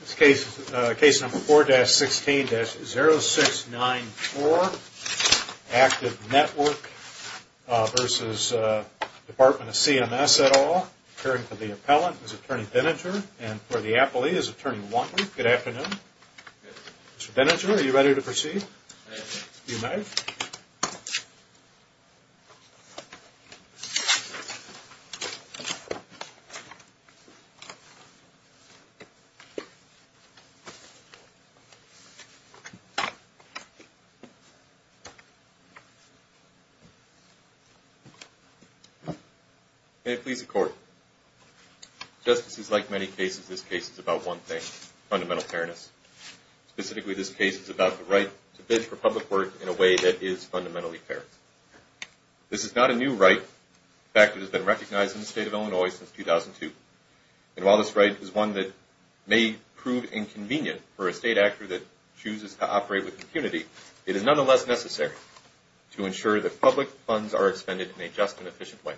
This case is Case Number 4-16-0694, Active Network v. Department of CMS, et al. Appearing for the appellant is Attorney Denninger and for the appellee is Attorney Wantley. Good afternoon. Mr. Denninger, are you ready to proceed? May it please the Court. Justices, like many cases, this case is about one thing, fundamental fairness. Specifically, this case is about the right to bid for public work in a way that is fundamentally fair. This is not a new right. In fact, it has been recognized in the state of Illinois since 2002. And while this right is one that may prove inconvenient for a state actor that chooses to operate with impunity, it is nonetheless necessary to ensure that public funds are expended in a just and efficient way.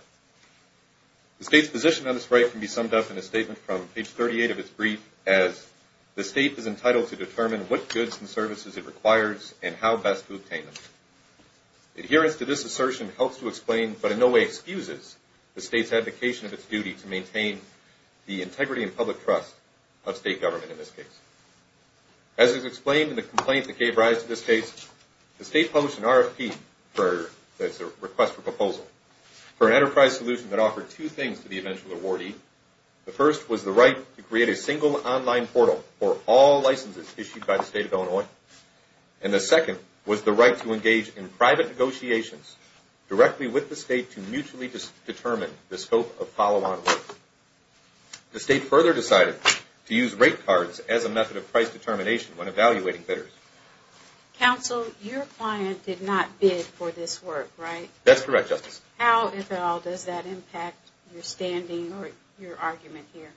The state's position on this right can be summed up in a statement from page 38 of its brief as the state is entitled to determine what goods and services it requires and how best to obtain them. Adherence to this assertion helps to explain, but in no way excuses, the state's advocation of its duty to maintain the integrity and public trust of state government in this case. As is explained in the complaint that gave rise to this case, the state published an RFP, that's a request for proposal, for an enterprise solution that offered two things to the eventual awardee. The first was the right to create a single online portal for all licenses issued by the state of Illinois, and the second was the right to engage in private negotiations directly with the state to mutually determine the scope of follow-on work. The state further decided to use rate cards as a method of price determination when evaluating bidders. Counsel, your client did not bid for this work, right? That's correct, Justice. How, if at all, does that impact your standing or your argument here?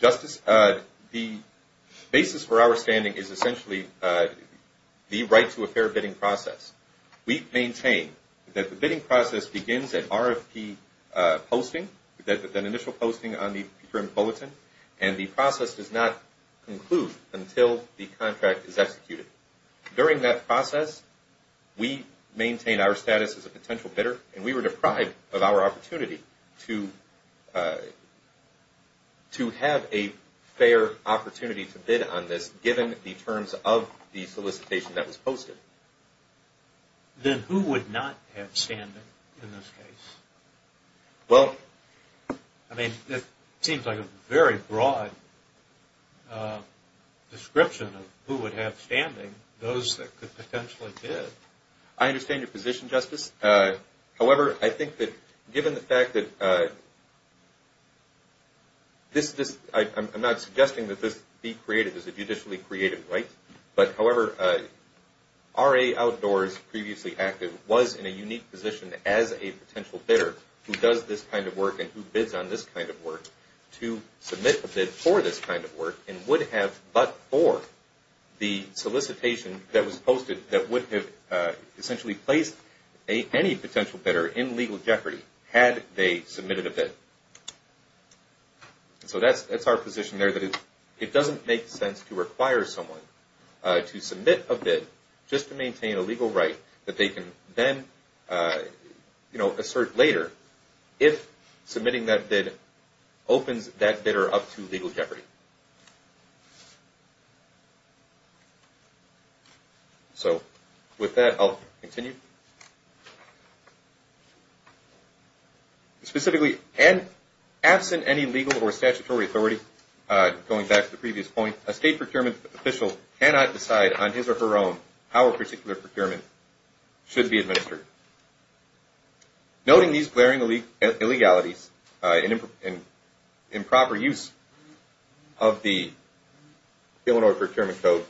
Justice, the basis for our standing is essentially the right to a fair bidding process. We maintain that the bidding process begins at RFP posting, that initial posting on the print bulletin, and the process does not conclude until the contract is executed. During that process, we maintain our status as a potential bidder, and we were deprived of our opportunity to have a fair opportunity to bid on this, given the terms of the solicitation that was posted. Then who would not have standing in this case? Well, I mean, it seems like a very broad description of who would have standing, those that could potentially bid. I understand your position, Justice. However, I think that given the fact that this, I'm not suggesting that this be created as a judicially created right, but however, RA Outdoors, previously active, was in a unique position as a potential bidder, who does this kind of work and who bids on this kind of work, to submit a bid for this kind of work and would have but for the solicitation that was posted that would have essentially placed any potential bidder in legal jeopardy had they submitted a bid. So that's our position there, that it doesn't make sense to require someone to submit a bid just to maintain a legal right that they can then assert later if submitting that bid opens that bidder up to legal jeopardy. So with that, I'll continue. Specifically, absent any legal or statutory authority, going back to the previous point, a state procurement official cannot decide on his or her own how a particular procurement should be administered. Noting these glaring illegalities and improper use of the Illinois Procurement Code,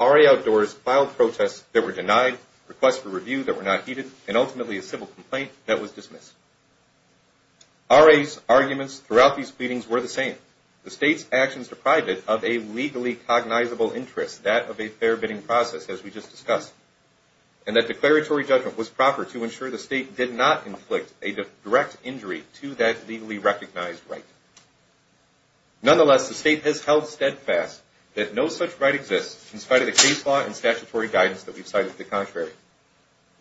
RA Outdoors filed protests that were denied, requests for review that were not heeded, and ultimately a civil complaint that was dismissed. RA's arguments throughout these pleadings were the same. The state's actions deprived it of a legally cognizable interest, that of a fair bidding process, as we just discussed, and that declaratory judgment was proper to ensure the state did not inflict a direct injury to that legally recognized right. Nonetheless, the state has held steadfast that no such right exists, in spite of the case law and statutory guidance that we've cited to the contrary.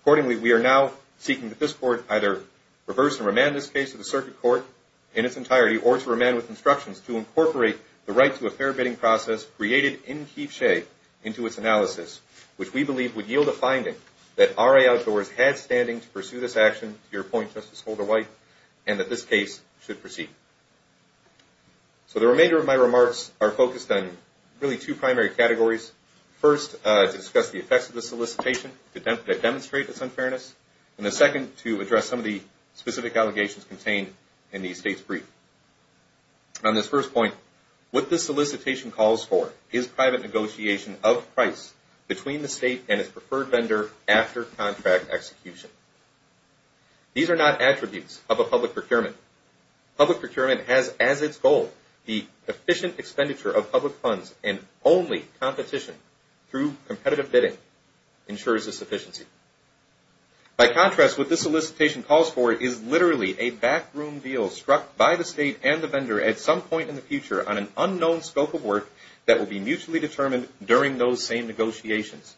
Accordingly, we are now seeking that this Court either reverse and remand this case to the Circuit Court in its entirety, or to remand with instructions to incorporate the right to a fair bidding process created in Keefe Shea into its analysis, which we believe would yield a finding that RA Outdoors had standing to pursue this action, to your point, Justice Holder-White, and that this case should proceed. So the remainder of my remarks are focused on really two primary categories. First, to discuss the effects of this solicitation, to demonstrate its unfairness, and the second, to address some of the specific allegations contained in the state's brief. On this first point, what this solicitation calls for is private negotiation of price between the state and its preferred vendor after contract execution. These are not attributes of a public procurement. Public procurement has as its goal the efficient expenditure of public funds, and only competition through competitive bidding ensures this efficiency. By contrast, what this solicitation calls for is literally a backroom deal struck by the state and the vendor at some point in the future on an unknown scope of work that will be mutually determined during those same negotiations.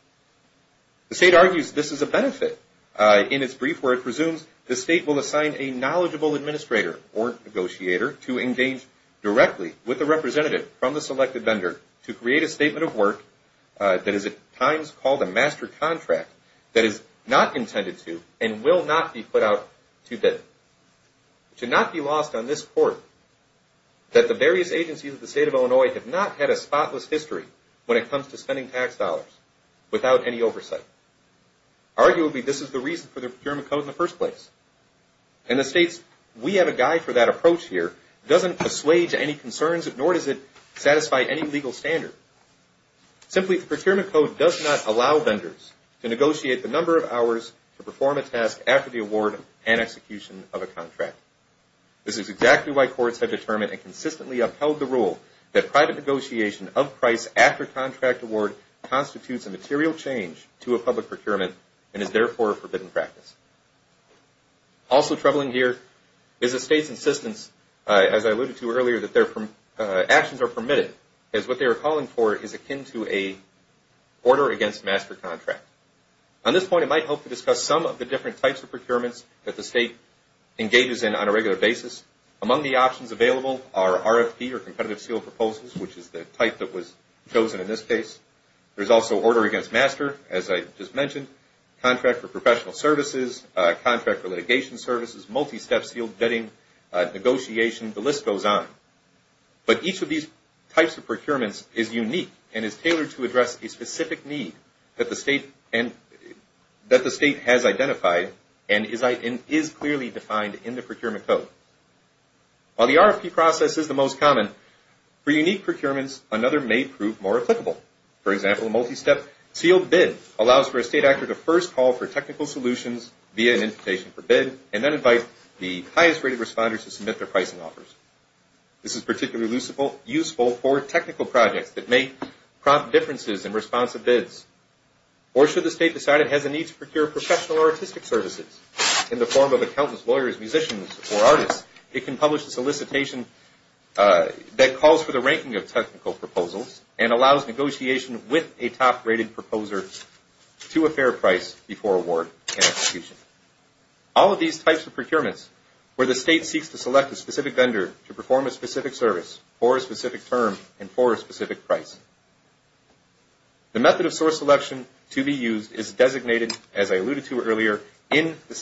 The state argues this is a benefit. In its brief where it presumes the state will assign a knowledgeable administrator or negotiator to engage directly with the representative from the selected vendor to create a statement of work that is at times called a master contract that is not intended to and will not be put out to bid. It should not be lost on this court that the various agencies of the state of Illinois have not had a spotless history when it comes to spending tax dollars without any oversight. Arguably, this is the reason for the Procurement Code in the first place, and the state's We Have a Guide for That approach here doesn't assuage any concerns, nor does it satisfy any legal standard. Simply, the Procurement Code does not allow vendors to negotiate the number of hours to perform a task after the award and execution of a contract. This is exactly why courts have determined and consistently upheld the rule that private negotiation of price after contract award constitutes a material change to a public procurement and is therefore a forbidden practice. Also troubling here is the state's insistence, as I alluded to earlier, that actions are permitted, as what they are calling for is akin to an order against master contract. On this point, I might hope to discuss some of the different types of procurements that the state engages in on a regular basis. Among the options available are RFP or competitive sealed proposals, which is the type that was chosen in this case. There is also order against master, as I just mentioned, contract for professional services, contract for litigation services, multi-step sealed bidding, negotiation, the list goes on. But each of these types of procurements is unique and is tailored to address a specific need that the state has identified and is clearly defined in the procurement code. While the RFP process is the most common, for unique procurements, another may prove more applicable. For example, a multi-step sealed bid allows for a state actor to first call for technical solutions via an invitation for bid and then invite the highest rated responders to submit their pricing offers. This is particularly useful for technical projects that may prompt differences in response to bids. Or should the state decide it has a need to procure professional or artistic services in the form of accountants, lawyers, musicians, or artists, it can publish a solicitation that calls for the ranking of technical proposals and allows negotiation with a top rated proposer to a fair price before award and execution. All of these types of procurements where the state seeks to select a specific vendor to perform a specific service for a specific term and for a specific price. The method of source selection to be used is designated, as I alluded to earlier, by the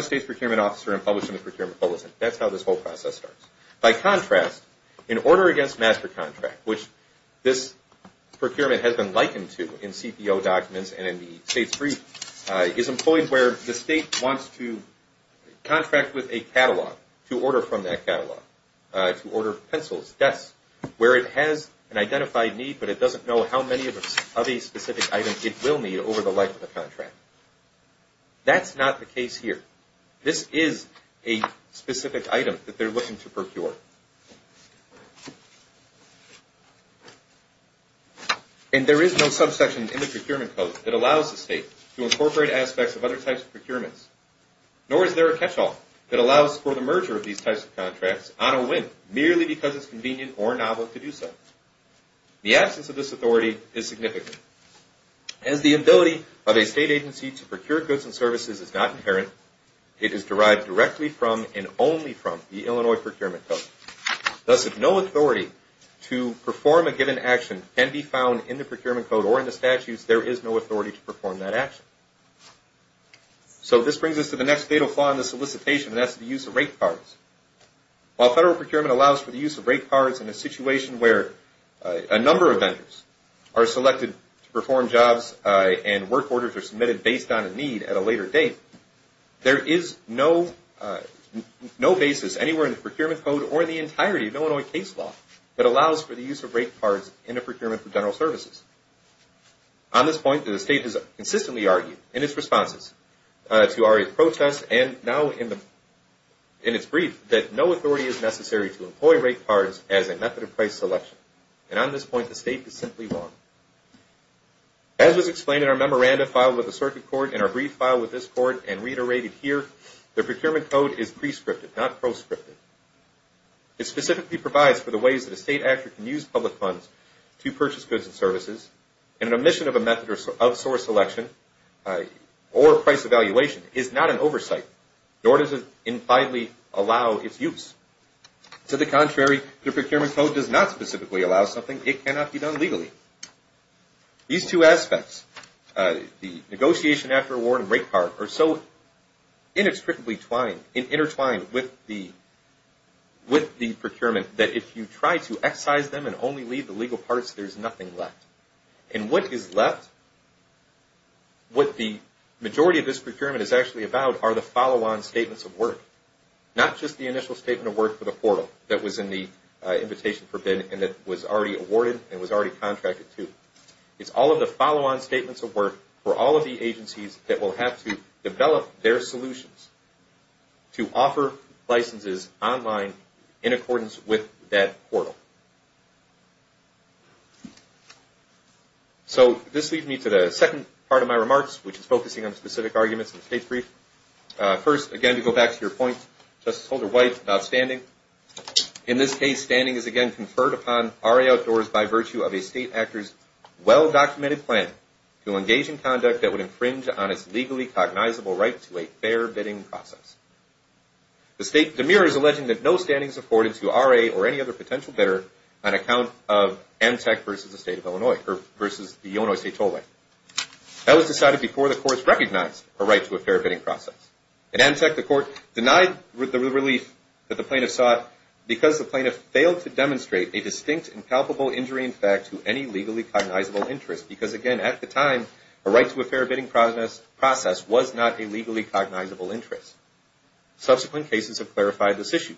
state's procurement officer and published in the procurement bulletin. That's how this whole process starts. By contrast, an order against master contract, which this procurement has been likened to in CPO documents and in the state's brief, is employed where the state wants to contract with a catalog to order from that catalog, to order pencils, desks, where it has an identified need, but it doesn't know how many of a specific item it will need over the life of the contract. That's not the case here. This is a specific item that they're looking to procure. And there is no subsection in the procurement code that allows the state to incorporate aspects of other types of procurements. Nor is there a catch-all that allows for the merger of these types of contracts on a whim, merely because it's convenient or novel to do so. The absence of this authority is significant. As the ability of a state agency to procure goods and services is not inherent, it is derived directly from and only from the Illinois procurement code. Thus, if no authority to perform a given action can be found in the procurement code or in the statutes, there is no authority to perform that action. So this brings us to the next fatal flaw in the solicitation, and that's the use of rate cards. While federal procurement allows for the use of rate cards in a situation where a number of vendors are selected to perform jobs and work orders are submitted based on a need at a later date, there is no basis anywhere in the procurement code or in the entirety of Illinois case law that allows for the use of rate cards in a procurement for general services. On this point, the state has consistently argued in its responses to ARIA's protests and now in its brief that no authority is necessary to employ rate cards as a method of price selection. And on this point, the state is simply wrong. As was explained in our memorandum filed with the Circuit Court and our brief filed with this Court and reiterated here, the procurement code is prescriptive, not proscriptive. It specifically provides for the ways that a state actor can use public funds to purchase goods and services and an omission of a method of source selection or price evaluation is not an oversight, nor does it impliedly allow its use. To the contrary, the procurement code does not specifically allow something. It cannot be done legally. These two aspects, the negotiation after award and rate card, are so inextricably twined and intertwined with the procurement that if you try to excise them and only leave the legal parts, there's nothing left. And what is left, what the majority of this procurement is actually about, are the follow-on statements of work. Not just the initial statement of work for the portal that was in the invitation for bid and that was already awarded and was already contracted to. It's all of the follow-on statements of work for all of the agencies that will have to develop their solutions. To offer licenses online in accordance with that portal. So this leads me to the second part of my remarks, which is focusing on specific arguments in the case brief. First, again, to go back to your point, Justice Holder White, about standing. In this case, standing is again conferred upon RA Outdoors by virtue of a state actor's well-documented plan to engage in conduct that would infringe on its legally cognizable right to a fair bidding process. The state demures, alleging that no standing is afforded to RA or any other potential bidder on account of Amtec versus the Illinois State Tollway. That was decided before the courts recognized a right to a fair bidding process. In Amtec, the court denied the relief that the plaintiff sought because the plaintiff failed to demonstrate a distinct and palpable injury in fact to any legally cognizable interest because, again, at the time, a right to a fair bidding process was not a legally cognizable interest. Subsequent cases have clarified this issue.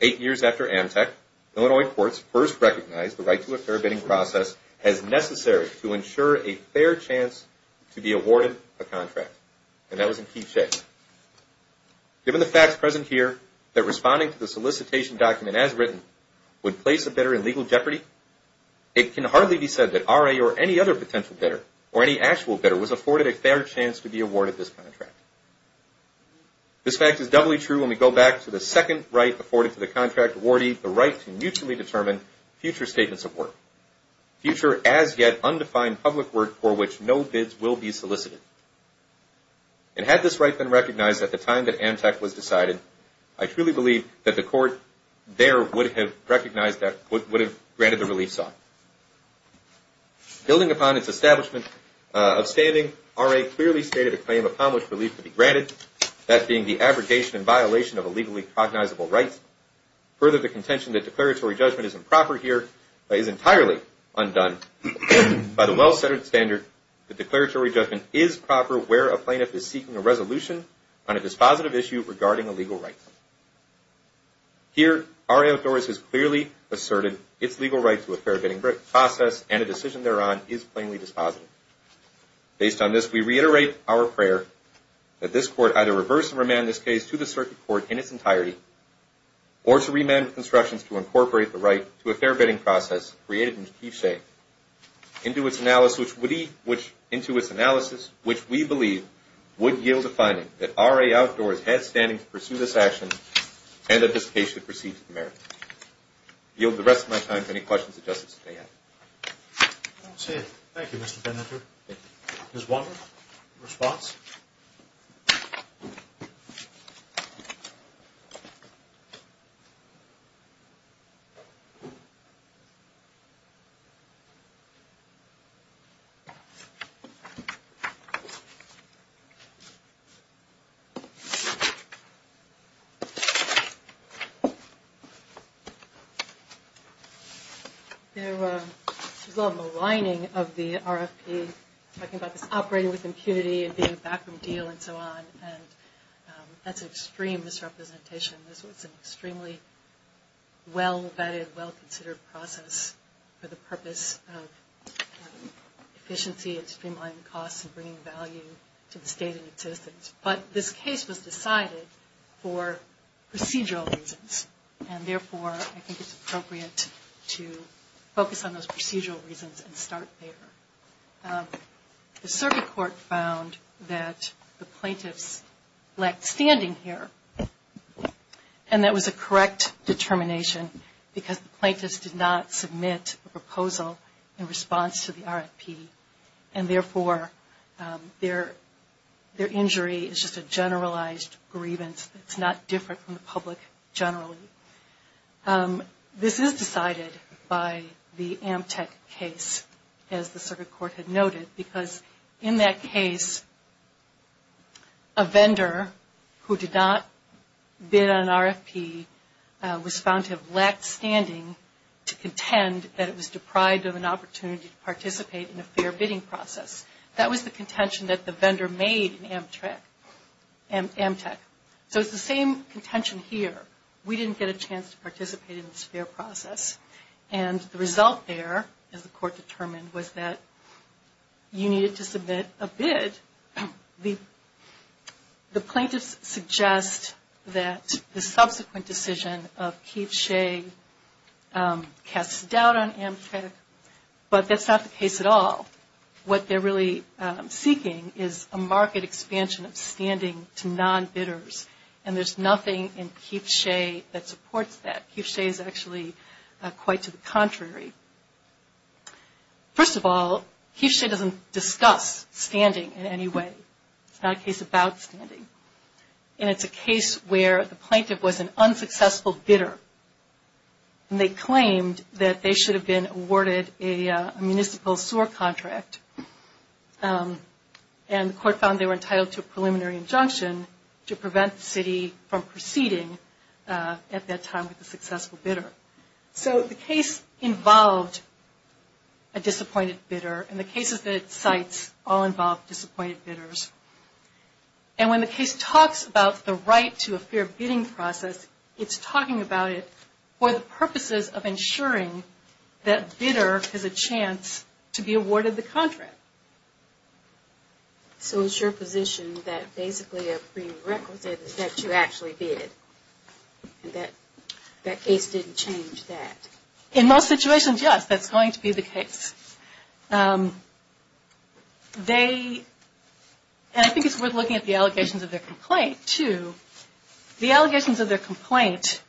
Eight years after Amtec, Illinois courts first recognized the right to a fair bidding process as necessary to ensure a fair chance to be awarded a contract. And that was in key shape. Given the facts present here, that responding to the solicitation document as written would place a bidder in legal jeopardy, it can hardly be said that RA or any other potential bidder or any actual bidder was afforded a fair chance to be awarded this contract. This fact is doubly true when we go back to the second right afforded to the contract awardee, the right to mutually determine future statements of work, future as yet undefined public work for which no bids will be solicited. And had this right been recognized at the time that Amtec was decided, I truly believe that the court there would have recognized that, would have granted the relief sought. Building upon its establishment of standing, RA clearly stated a claim of how much relief would be granted, that being the abrogation and violation of a legally cognizable right. Further, the contention that declaratory judgment is improper here is entirely undone. By the well-centered standard, the declaratory judgment is proper where a plaintiff is seeking a resolution on a dispositive issue regarding a legal right. Here, RA authorities clearly asserted its legal right to a fair bidding process and a decision thereon is plainly dispositive. Based on this, we reiterate our prayer that this court either reverse and remand this case to the circuit court in its entirety or to remand with instructions to incorporate the right to a fair bidding process created in Chief Shea into its analysis, which we believe would yield a finding that RA Outdoors has standing to pursue this action and that this case should proceed to the merits. I yield the rest of my time to any questions that Justice may have. That's it. Thank you, Mr. Bennifer. Ms. Walker, response? There was a lot of maligning of the RFP, talking about this operating with impunity and being a backroom deal and so on. And that's an extreme misrepresentation. This was an extremely well-vetted, well-considered process for the purpose of efficiency and streamlining costs and bringing value to the state and its citizens. But this case was decided for procedural reasons. And therefore, I think it's appropriate to focus on those procedural reasons and start there. The circuit court found that the plaintiffs lacked standing here. And that was a correct determination because the plaintiffs did not submit a proposal in response to the RFP. And therefore, their injury is just a generalized grievance. It's not different from the public generally. This is decided by the Amtec case, as the circuit court had noted, because in that case, a vendor who did not bid on RFP was found to have lacked standing to contend that it was deprived of an opportunity to participate in a fair bidding process. That was the contention that the vendor made in Amtec. So it's the same contention here. We didn't get a chance to participate in this fair process. And the result there, as the court determined, was that you needed to submit a bid. The plaintiffs suggest that the subsequent decision of Keith Shea casts doubt on Amtec. But that's not the case at all. What they're really seeking is a market expansion of standing to non-bidders. And there's nothing in Keith Shea that supports that. Keith Shea is actually quite to the contrary. First of all, Keith Shea doesn't discuss standing in any way. It's not a case about standing. And it's a case where the plaintiff was an unsuccessful bidder. And they claimed that they should have been awarded a municipal sewer contract. And the court found they were entitled to a preliminary injunction to prevent the city from proceeding at that time with a successful bidder. So the case involved a disappointed bidder. And the cases that it cites all involve disappointed bidders. And when the case talks about the right to a fair bidding process, it's talking about it for the purposes of ensuring that bidder has a chance to be awarded the contract. So it's your position that basically a prerequisite is that you actually bid. And that case didn't change that. In most situations, yes, that's going to be the case. And I think it's worth looking at the allegations of their complaint, too. The allegations of their complaint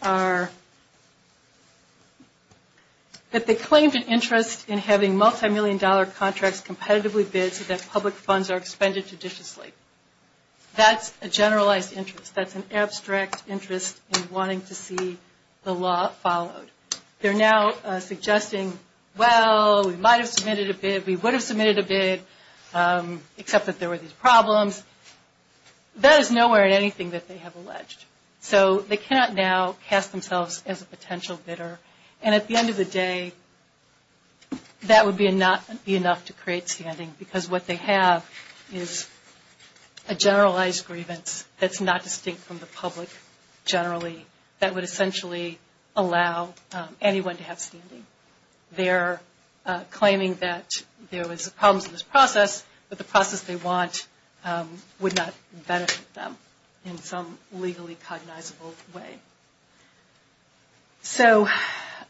are that they claimed an interest in having multimillion dollar contracts competitively bid so that public funds are expended judiciously. That's a generalized interest. That's an abstract interest in wanting to see the law followed. They're now suggesting, well, we might have submitted a bid, we would have submitted a bid, except that there were these problems. Because that is nowhere in anything that they have alleged. So they cannot now cast themselves as a potential bidder. And at the end of the day, that would not be enough to create standing because what they have is a generalized grievance that's not distinct from the public generally that would essentially allow anyone to have standing. They're claiming that there was problems in this process, but the process they want would not benefit them in some legally cognizable way. So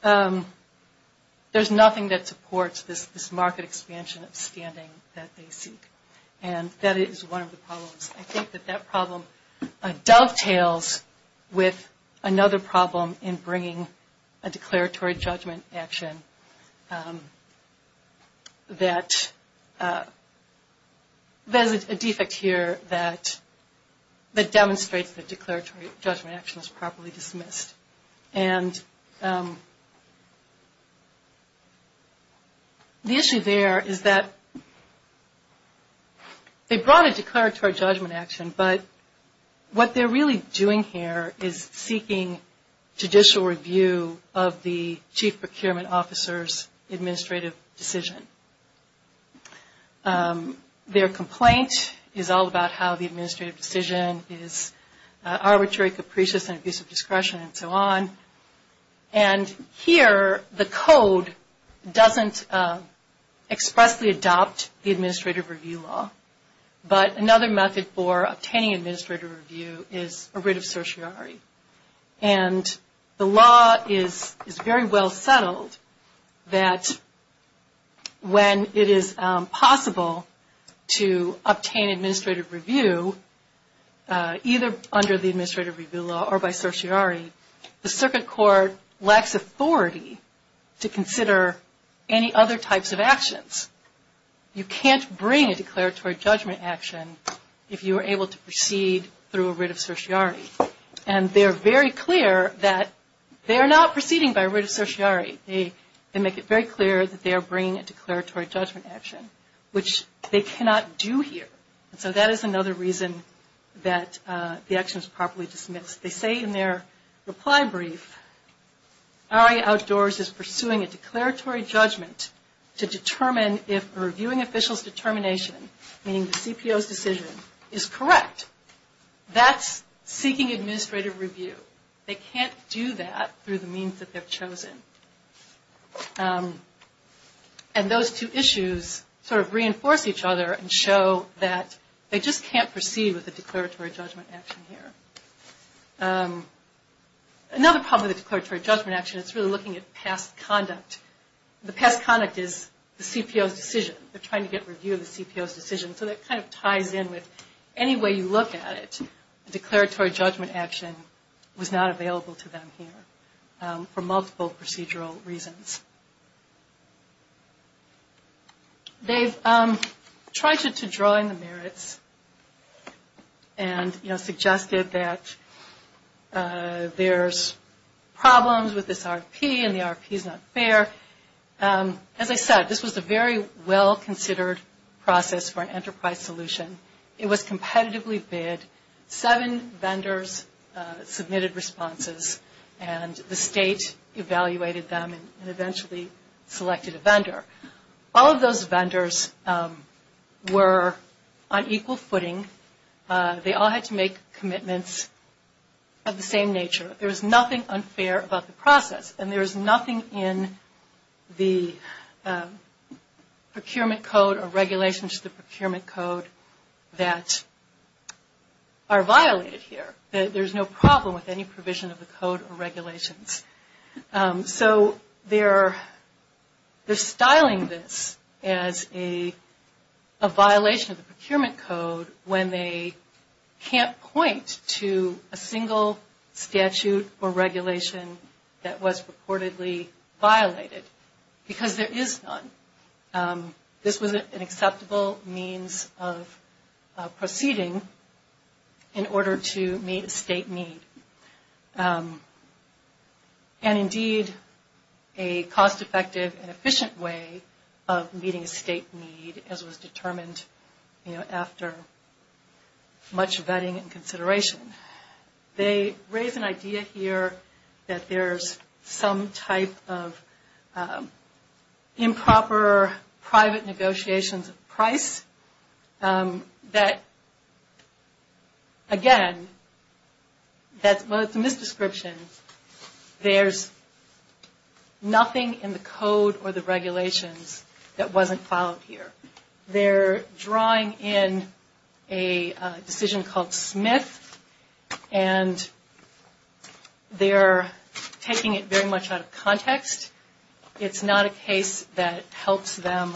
there's nothing that supports this market expansion of standing that they seek. And that is one of the problems. I think that that problem dovetails with another problem in bringing a declaratory judgment action that there's a defect here that demonstrates that declaratory judgment action is properly dismissed. And the issue there is that they brought a declaratory judgment action, but what they're really doing here is seeking judicial review of the chief procurement officer's administrative decision. Their complaint is all about how the administrative decision is arbitrary, capricious, and abuse of discretion and so on. And here, the code doesn't expressly adopt the administrative review law. But another method for obtaining administrative review is a writ of certiorari. And the law is very well settled that when it is possible to obtain administrative review either under the administrative review law or by certiorari, the circuit court lacks authority to consider any other types of actions. You can't bring a declaratory judgment action if you are able to proceed through a writ of certiorari. And they are very clear that they are not proceeding by writ of certiorari. They make it very clear that they are bringing a declaratory judgment action, which they cannot do here. And so that is another reason that the action is properly dismissed. They say in their reply brief, RA Outdoors is pursuing a declaratory judgment to determine if a reviewing official's determination, meaning the CPO's decision, is correct. That is seeking administrative review. They can't do that through the means that they have chosen. And those two issues sort of reinforce each other and show that they just can't proceed with a declaratory judgment action here. Another problem with a declaratory judgment action is really looking at past conduct. The past conduct is the CPO's decision. They are trying to get review of the CPO's decision. So that kind of ties in with any way you look at it. A declaratory judgment action was not available to them here for multiple procedural reasons. They've tried to draw in the merits and suggested that there's problems with this RFP and the RFP is not fair. As I said, this was a very well-considered process for an enterprise solution. It was competitively bid. Seven vendors submitted responses and the state evaluated them and eventually selected a vendor. All of those vendors were on equal footing. They all had to make commitments of the same nature. There's nothing unfair about the process. And there's nothing in the procurement code or regulations to the procurement code that are violated here. There's no problem with any provision of the code or regulations. So they're styling this as a violation of the procurement code when they can't point to a single statute or regulation that was reportedly violated because there is none. This was an acceptable means of proceeding in order to meet a state need. And indeed, a cost-effective and efficient way of meeting a state need as was determined after much vetting and consideration. They raise an idea here that there's some type of improper private negotiations of price that, again, that's a misdescription. There's nothing in the code or the regulations that wasn't followed here. They're drawing in a decision called Smith and they're taking it very much out of context. It's not a case that helps them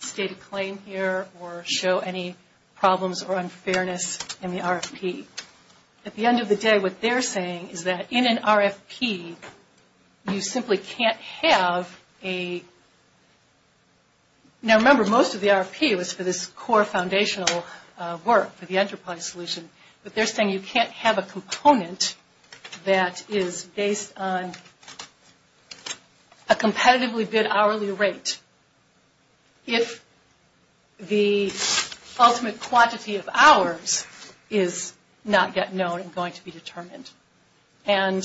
state a claim here or show any problems or unfairness in the RFP. At the end of the day, what they're saying is that in an RFP, you simply can't have a – now remember, most of the RFP was for this core foundational work, for the enterprise solution. But they're saying you can't have a component that is based on a competitively bid hourly rate. If the ultimate quantity of hours is not yet known and going to be determined. And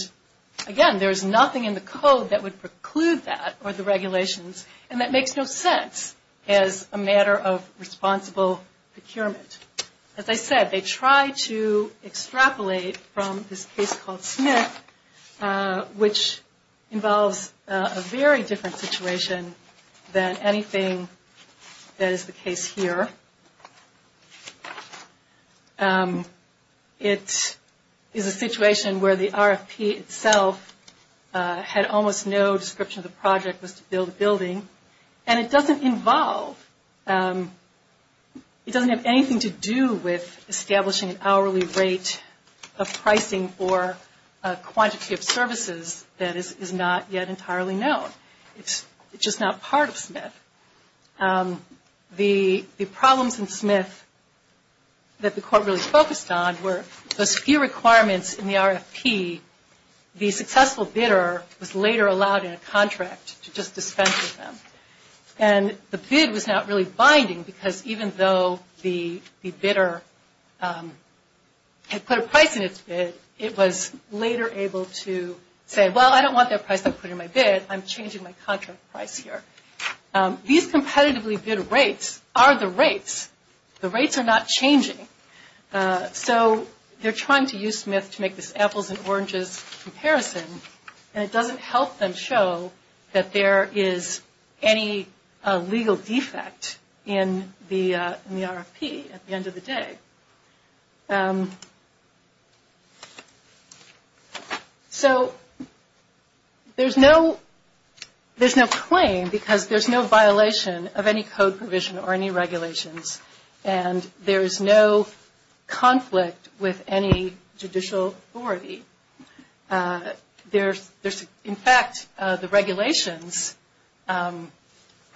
again, there's nothing in the code that would preclude that or the regulations. And that makes no sense as a matter of responsible procurement. As I said, they try to extrapolate from this case called Smith, which involves a very different situation than anything that is the case here. It is a situation where the RFP itself had almost no description of the project was to build a building. And it doesn't involve – it doesn't have anything to do with establishing an hourly rate of pricing for a quantity of services that is not yet entirely known. It's just not part of Smith. The problems in Smith that the court really focused on were those few requirements in the RFP. The successful bidder was later allowed in a contract to just dispense with them. And the bid was not really binding because even though the bidder had put a price in its bid, it was later able to say, well, I don't want that price to put in my bid. I'm changing my contract price here. These competitively bid rates are the rates. The rates are not changing. So they're trying to use Smith to make this apples and oranges comparison. And it doesn't help them show that there is any legal defect in the RFP at the end of the day. So there's no claim because there's no violation of any code provision or any regulations. And there is no conflict with any judicial authority. In fact, the regulations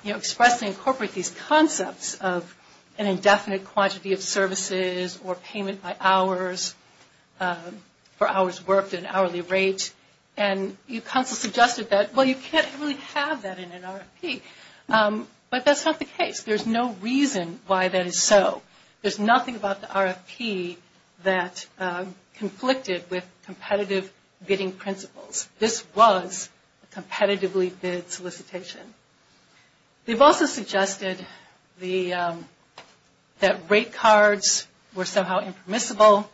expressly incorporate these concepts of an indefinite quantity of services or payment by hours for hours worked at an hourly rate. And you constantly suggested that, well, you can't really have that in an RFP. But that's not the case. There's no reason why that is so. There's nothing about the RFP that conflicted with competitive bidding principles. This was a competitively bid solicitation. They've also suggested that rate cards were somehow impermissible,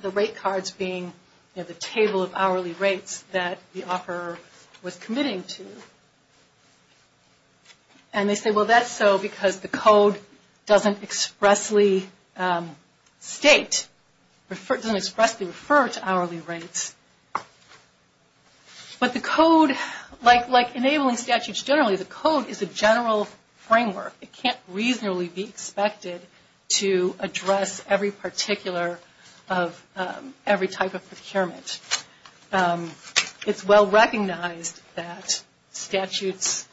the rate cards being the table of hourly rates that the offeror was committing to. And they say, well, that's so because the code doesn't expressly state, doesn't expressly refer to hourly rates. But the code, like enabling statutes generally, the code is a general framework. It can't reasonably be expected to address every particular of every type of procurement. It's well recognized that statutes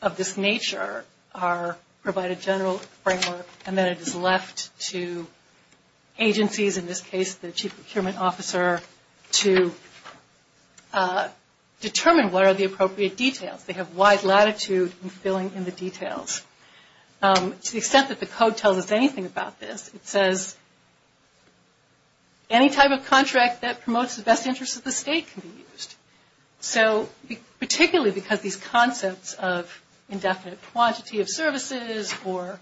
of this nature provide a general framework, and then it is left to agencies, in this case the chief procurement officer, to determine what are the appropriate details. They have wide latitude in filling in the details. To the extent that the code tells us anything about this, it says, any type of contract that promotes the best interests of the state can be used. So particularly because these concepts of indefinite quantity of services or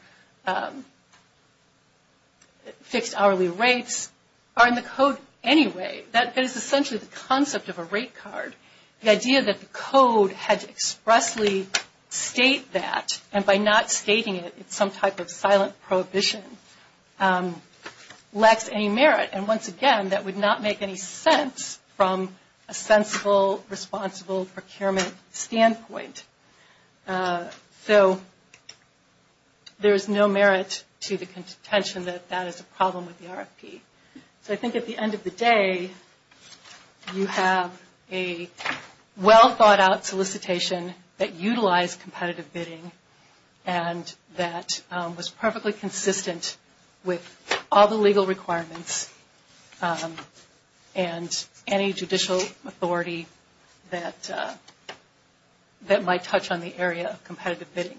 fixed hourly rates are in the code anyway, that is essentially the concept of a rate card. The idea that the code had to expressly state that, and by not stating it, it's some type of silent prohibition, lacks any merit. And once again, that would not make any sense from a sensible, responsible procurement standpoint. So there is no merit to the contention that that is a problem with the RFP. So I think at the end of the day, you have a well-thought-out solicitation that utilized competitive bidding and that was perfectly consistent with all the legal requirements and any judicial authority that might touch on the area of competitive bidding.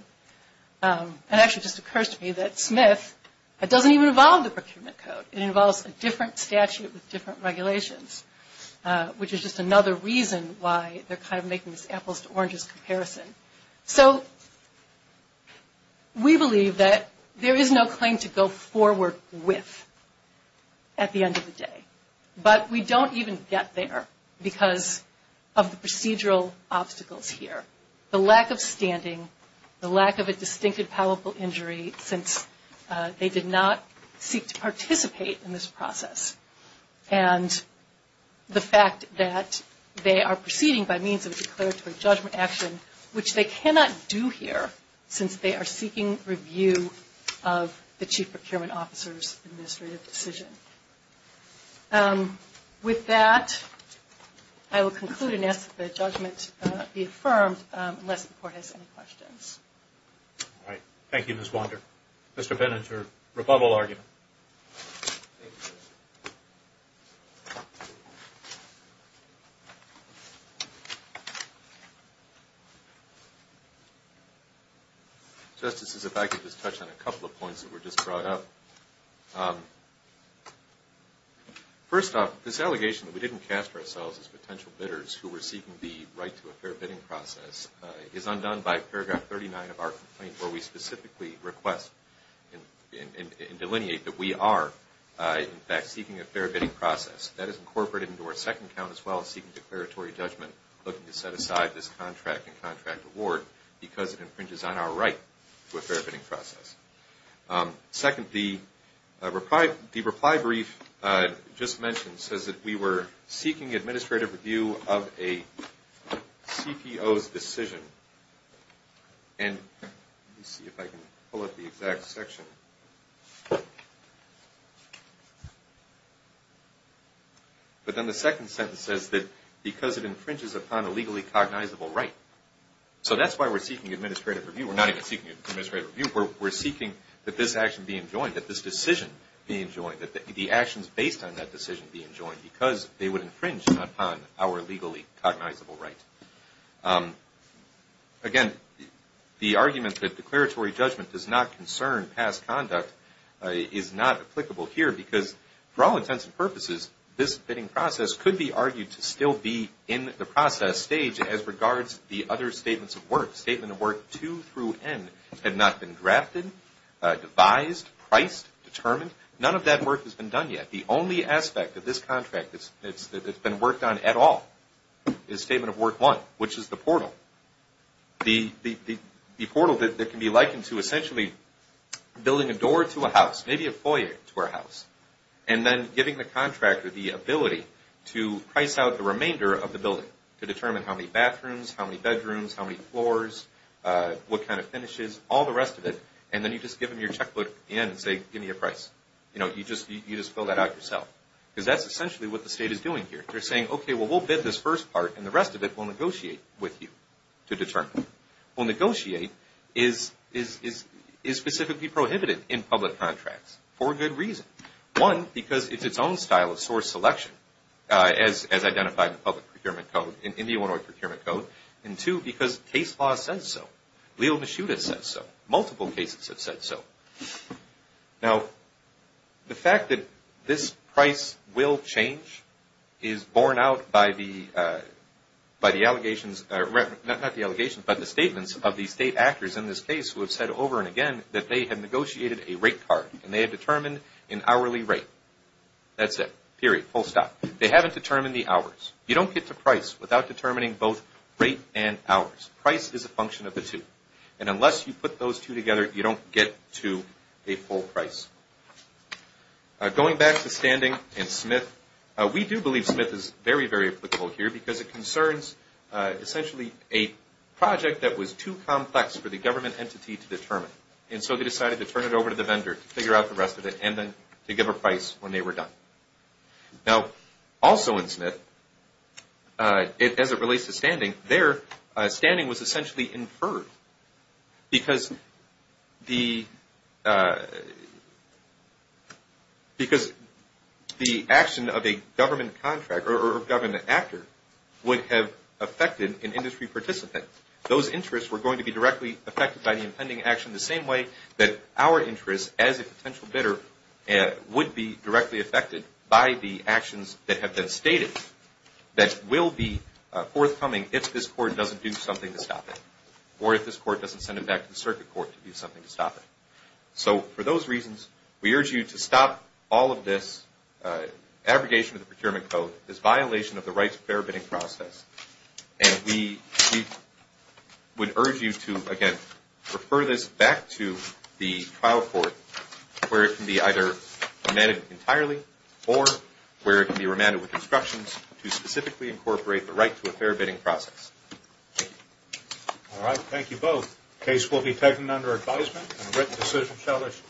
It actually just occurs to me that Smith, it doesn't even involve the procurement code. It involves a different statute with different regulations, which is just another reason why they're kind of making this apples to oranges comparison. So we believe that there is no claim to go forward with at the end of the day. But we don't even get there because of the procedural obstacles here, the lack of standing, the lack of a distinctive palpable injury since they did not seek to participate in this process, and the fact that they are proceeding by means of a declaratory judgment action, which they cannot do here since they are seeking review of the Chief Procurement Officer's administrative decision. With that, I will conclude and ask that the judgment be affirmed unless the Court has any questions. All right. Thank you, Ms. Wander. Mr. Benninger, rebuttal argument. Thank you, Justice. Justices, if I could just touch on a couple of points that were just brought up. First off, this allegation that we didn't cast ourselves as potential bidders who were seeking the right to a fair bidding process is undone by paragraph 39 of our complaint where we specifically request and delineate that we are, in fact, seeking a fair bidding process. That is incorporated into our second count as well as seeking declaratory judgment, looking to set aside this contract and contract award because it infringes on our right to a fair bidding process. Second, the reply brief just mentioned says that we were seeking administrative review of a CPO's decision and let me see if I can pull up the exact section. But then the second sentence says that because it infringes upon a legally cognizable right. So that's why we're seeking administrative review. We're not even seeking administrative review. We're seeking that this action be enjoined, that this decision be enjoined, that the actions based on that decision be enjoined because they would infringe upon our legally cognizable right. Again, the argument that declaratory judgment does not concern past conduct is not applicable here because for all intents and purposes, this bidding process could be argued to still be in the process stage as regards the other statements of work. Statement of work 2 through N had not been drafted, devised, priced, determined. None of that work has been done yet. The only aspect of this contract that's been worked on at all is statement of work 1, which is the portal. The portal that can be likened to essentially building a door to a house, maybe a foyer to a house, and then giving the contractor the ability to price out the remainder of the building to determine how many bathrooms, how many bedrooms, how many floors, what kind of finishes, all the rest of it, and then you just give them your checkbook and say, give me a price. You just fill that out yourself because that's essentially what the state is doing here. They're saying, okay, well, we'll bid this first part and the rest of it we'll negotiate with you to determine. Well, negotiate is specifically prohibited in public contracts for a good reason. One, because it's its own style of source selection as identified in the public procurement code, in the Illinois Procurement Code, and two, because case law says so. Leo Mishuda says so. Multiple cases have said so. Now, the fact that this price will change is borne out by the statements of the state actors in this case who have said over and again that they have negotiated a rate card and they have determined an hourly rate. That's it, period, full stop. They haven't determined the hours. You don't get to price without determining both rate and hours. Price is a function of the two, and unless you put those two together, you don't get to a full price. Going back to standing and Smith, we do believe Smith is very, very applicable here because it concerns, essentially, a project that was too complex for the government entity to determine, and so they decided to turn it over to the vendor to figure out the rest of it and then to give a price when they were done. Now, also in Smith, as it relates to standing, there, standing was essentially inferred because the action of a government contractor or government actor would have affected an industry participant. Those interests were going to be directly affected by the impending action the same way that our interests, as a potential bidder, would be directly affected by the actions that have been stated that will be forthcoming if this court doesn't do something to stop it or if this court doesn't send it back to the circuit court to do something to stop it. So for those reasons, we urge you to stop all of this abrogation of the procurement code, this violation of the rights of fair bidding process, and we would urge you to, again, refer this back to the trial court where it can be either remanded entirely or where it can be remanded with instructions to specifically incorporate the right to a fair bidding process. All right. Thank you both. The case will be taken under advisement and a written decision shall issue.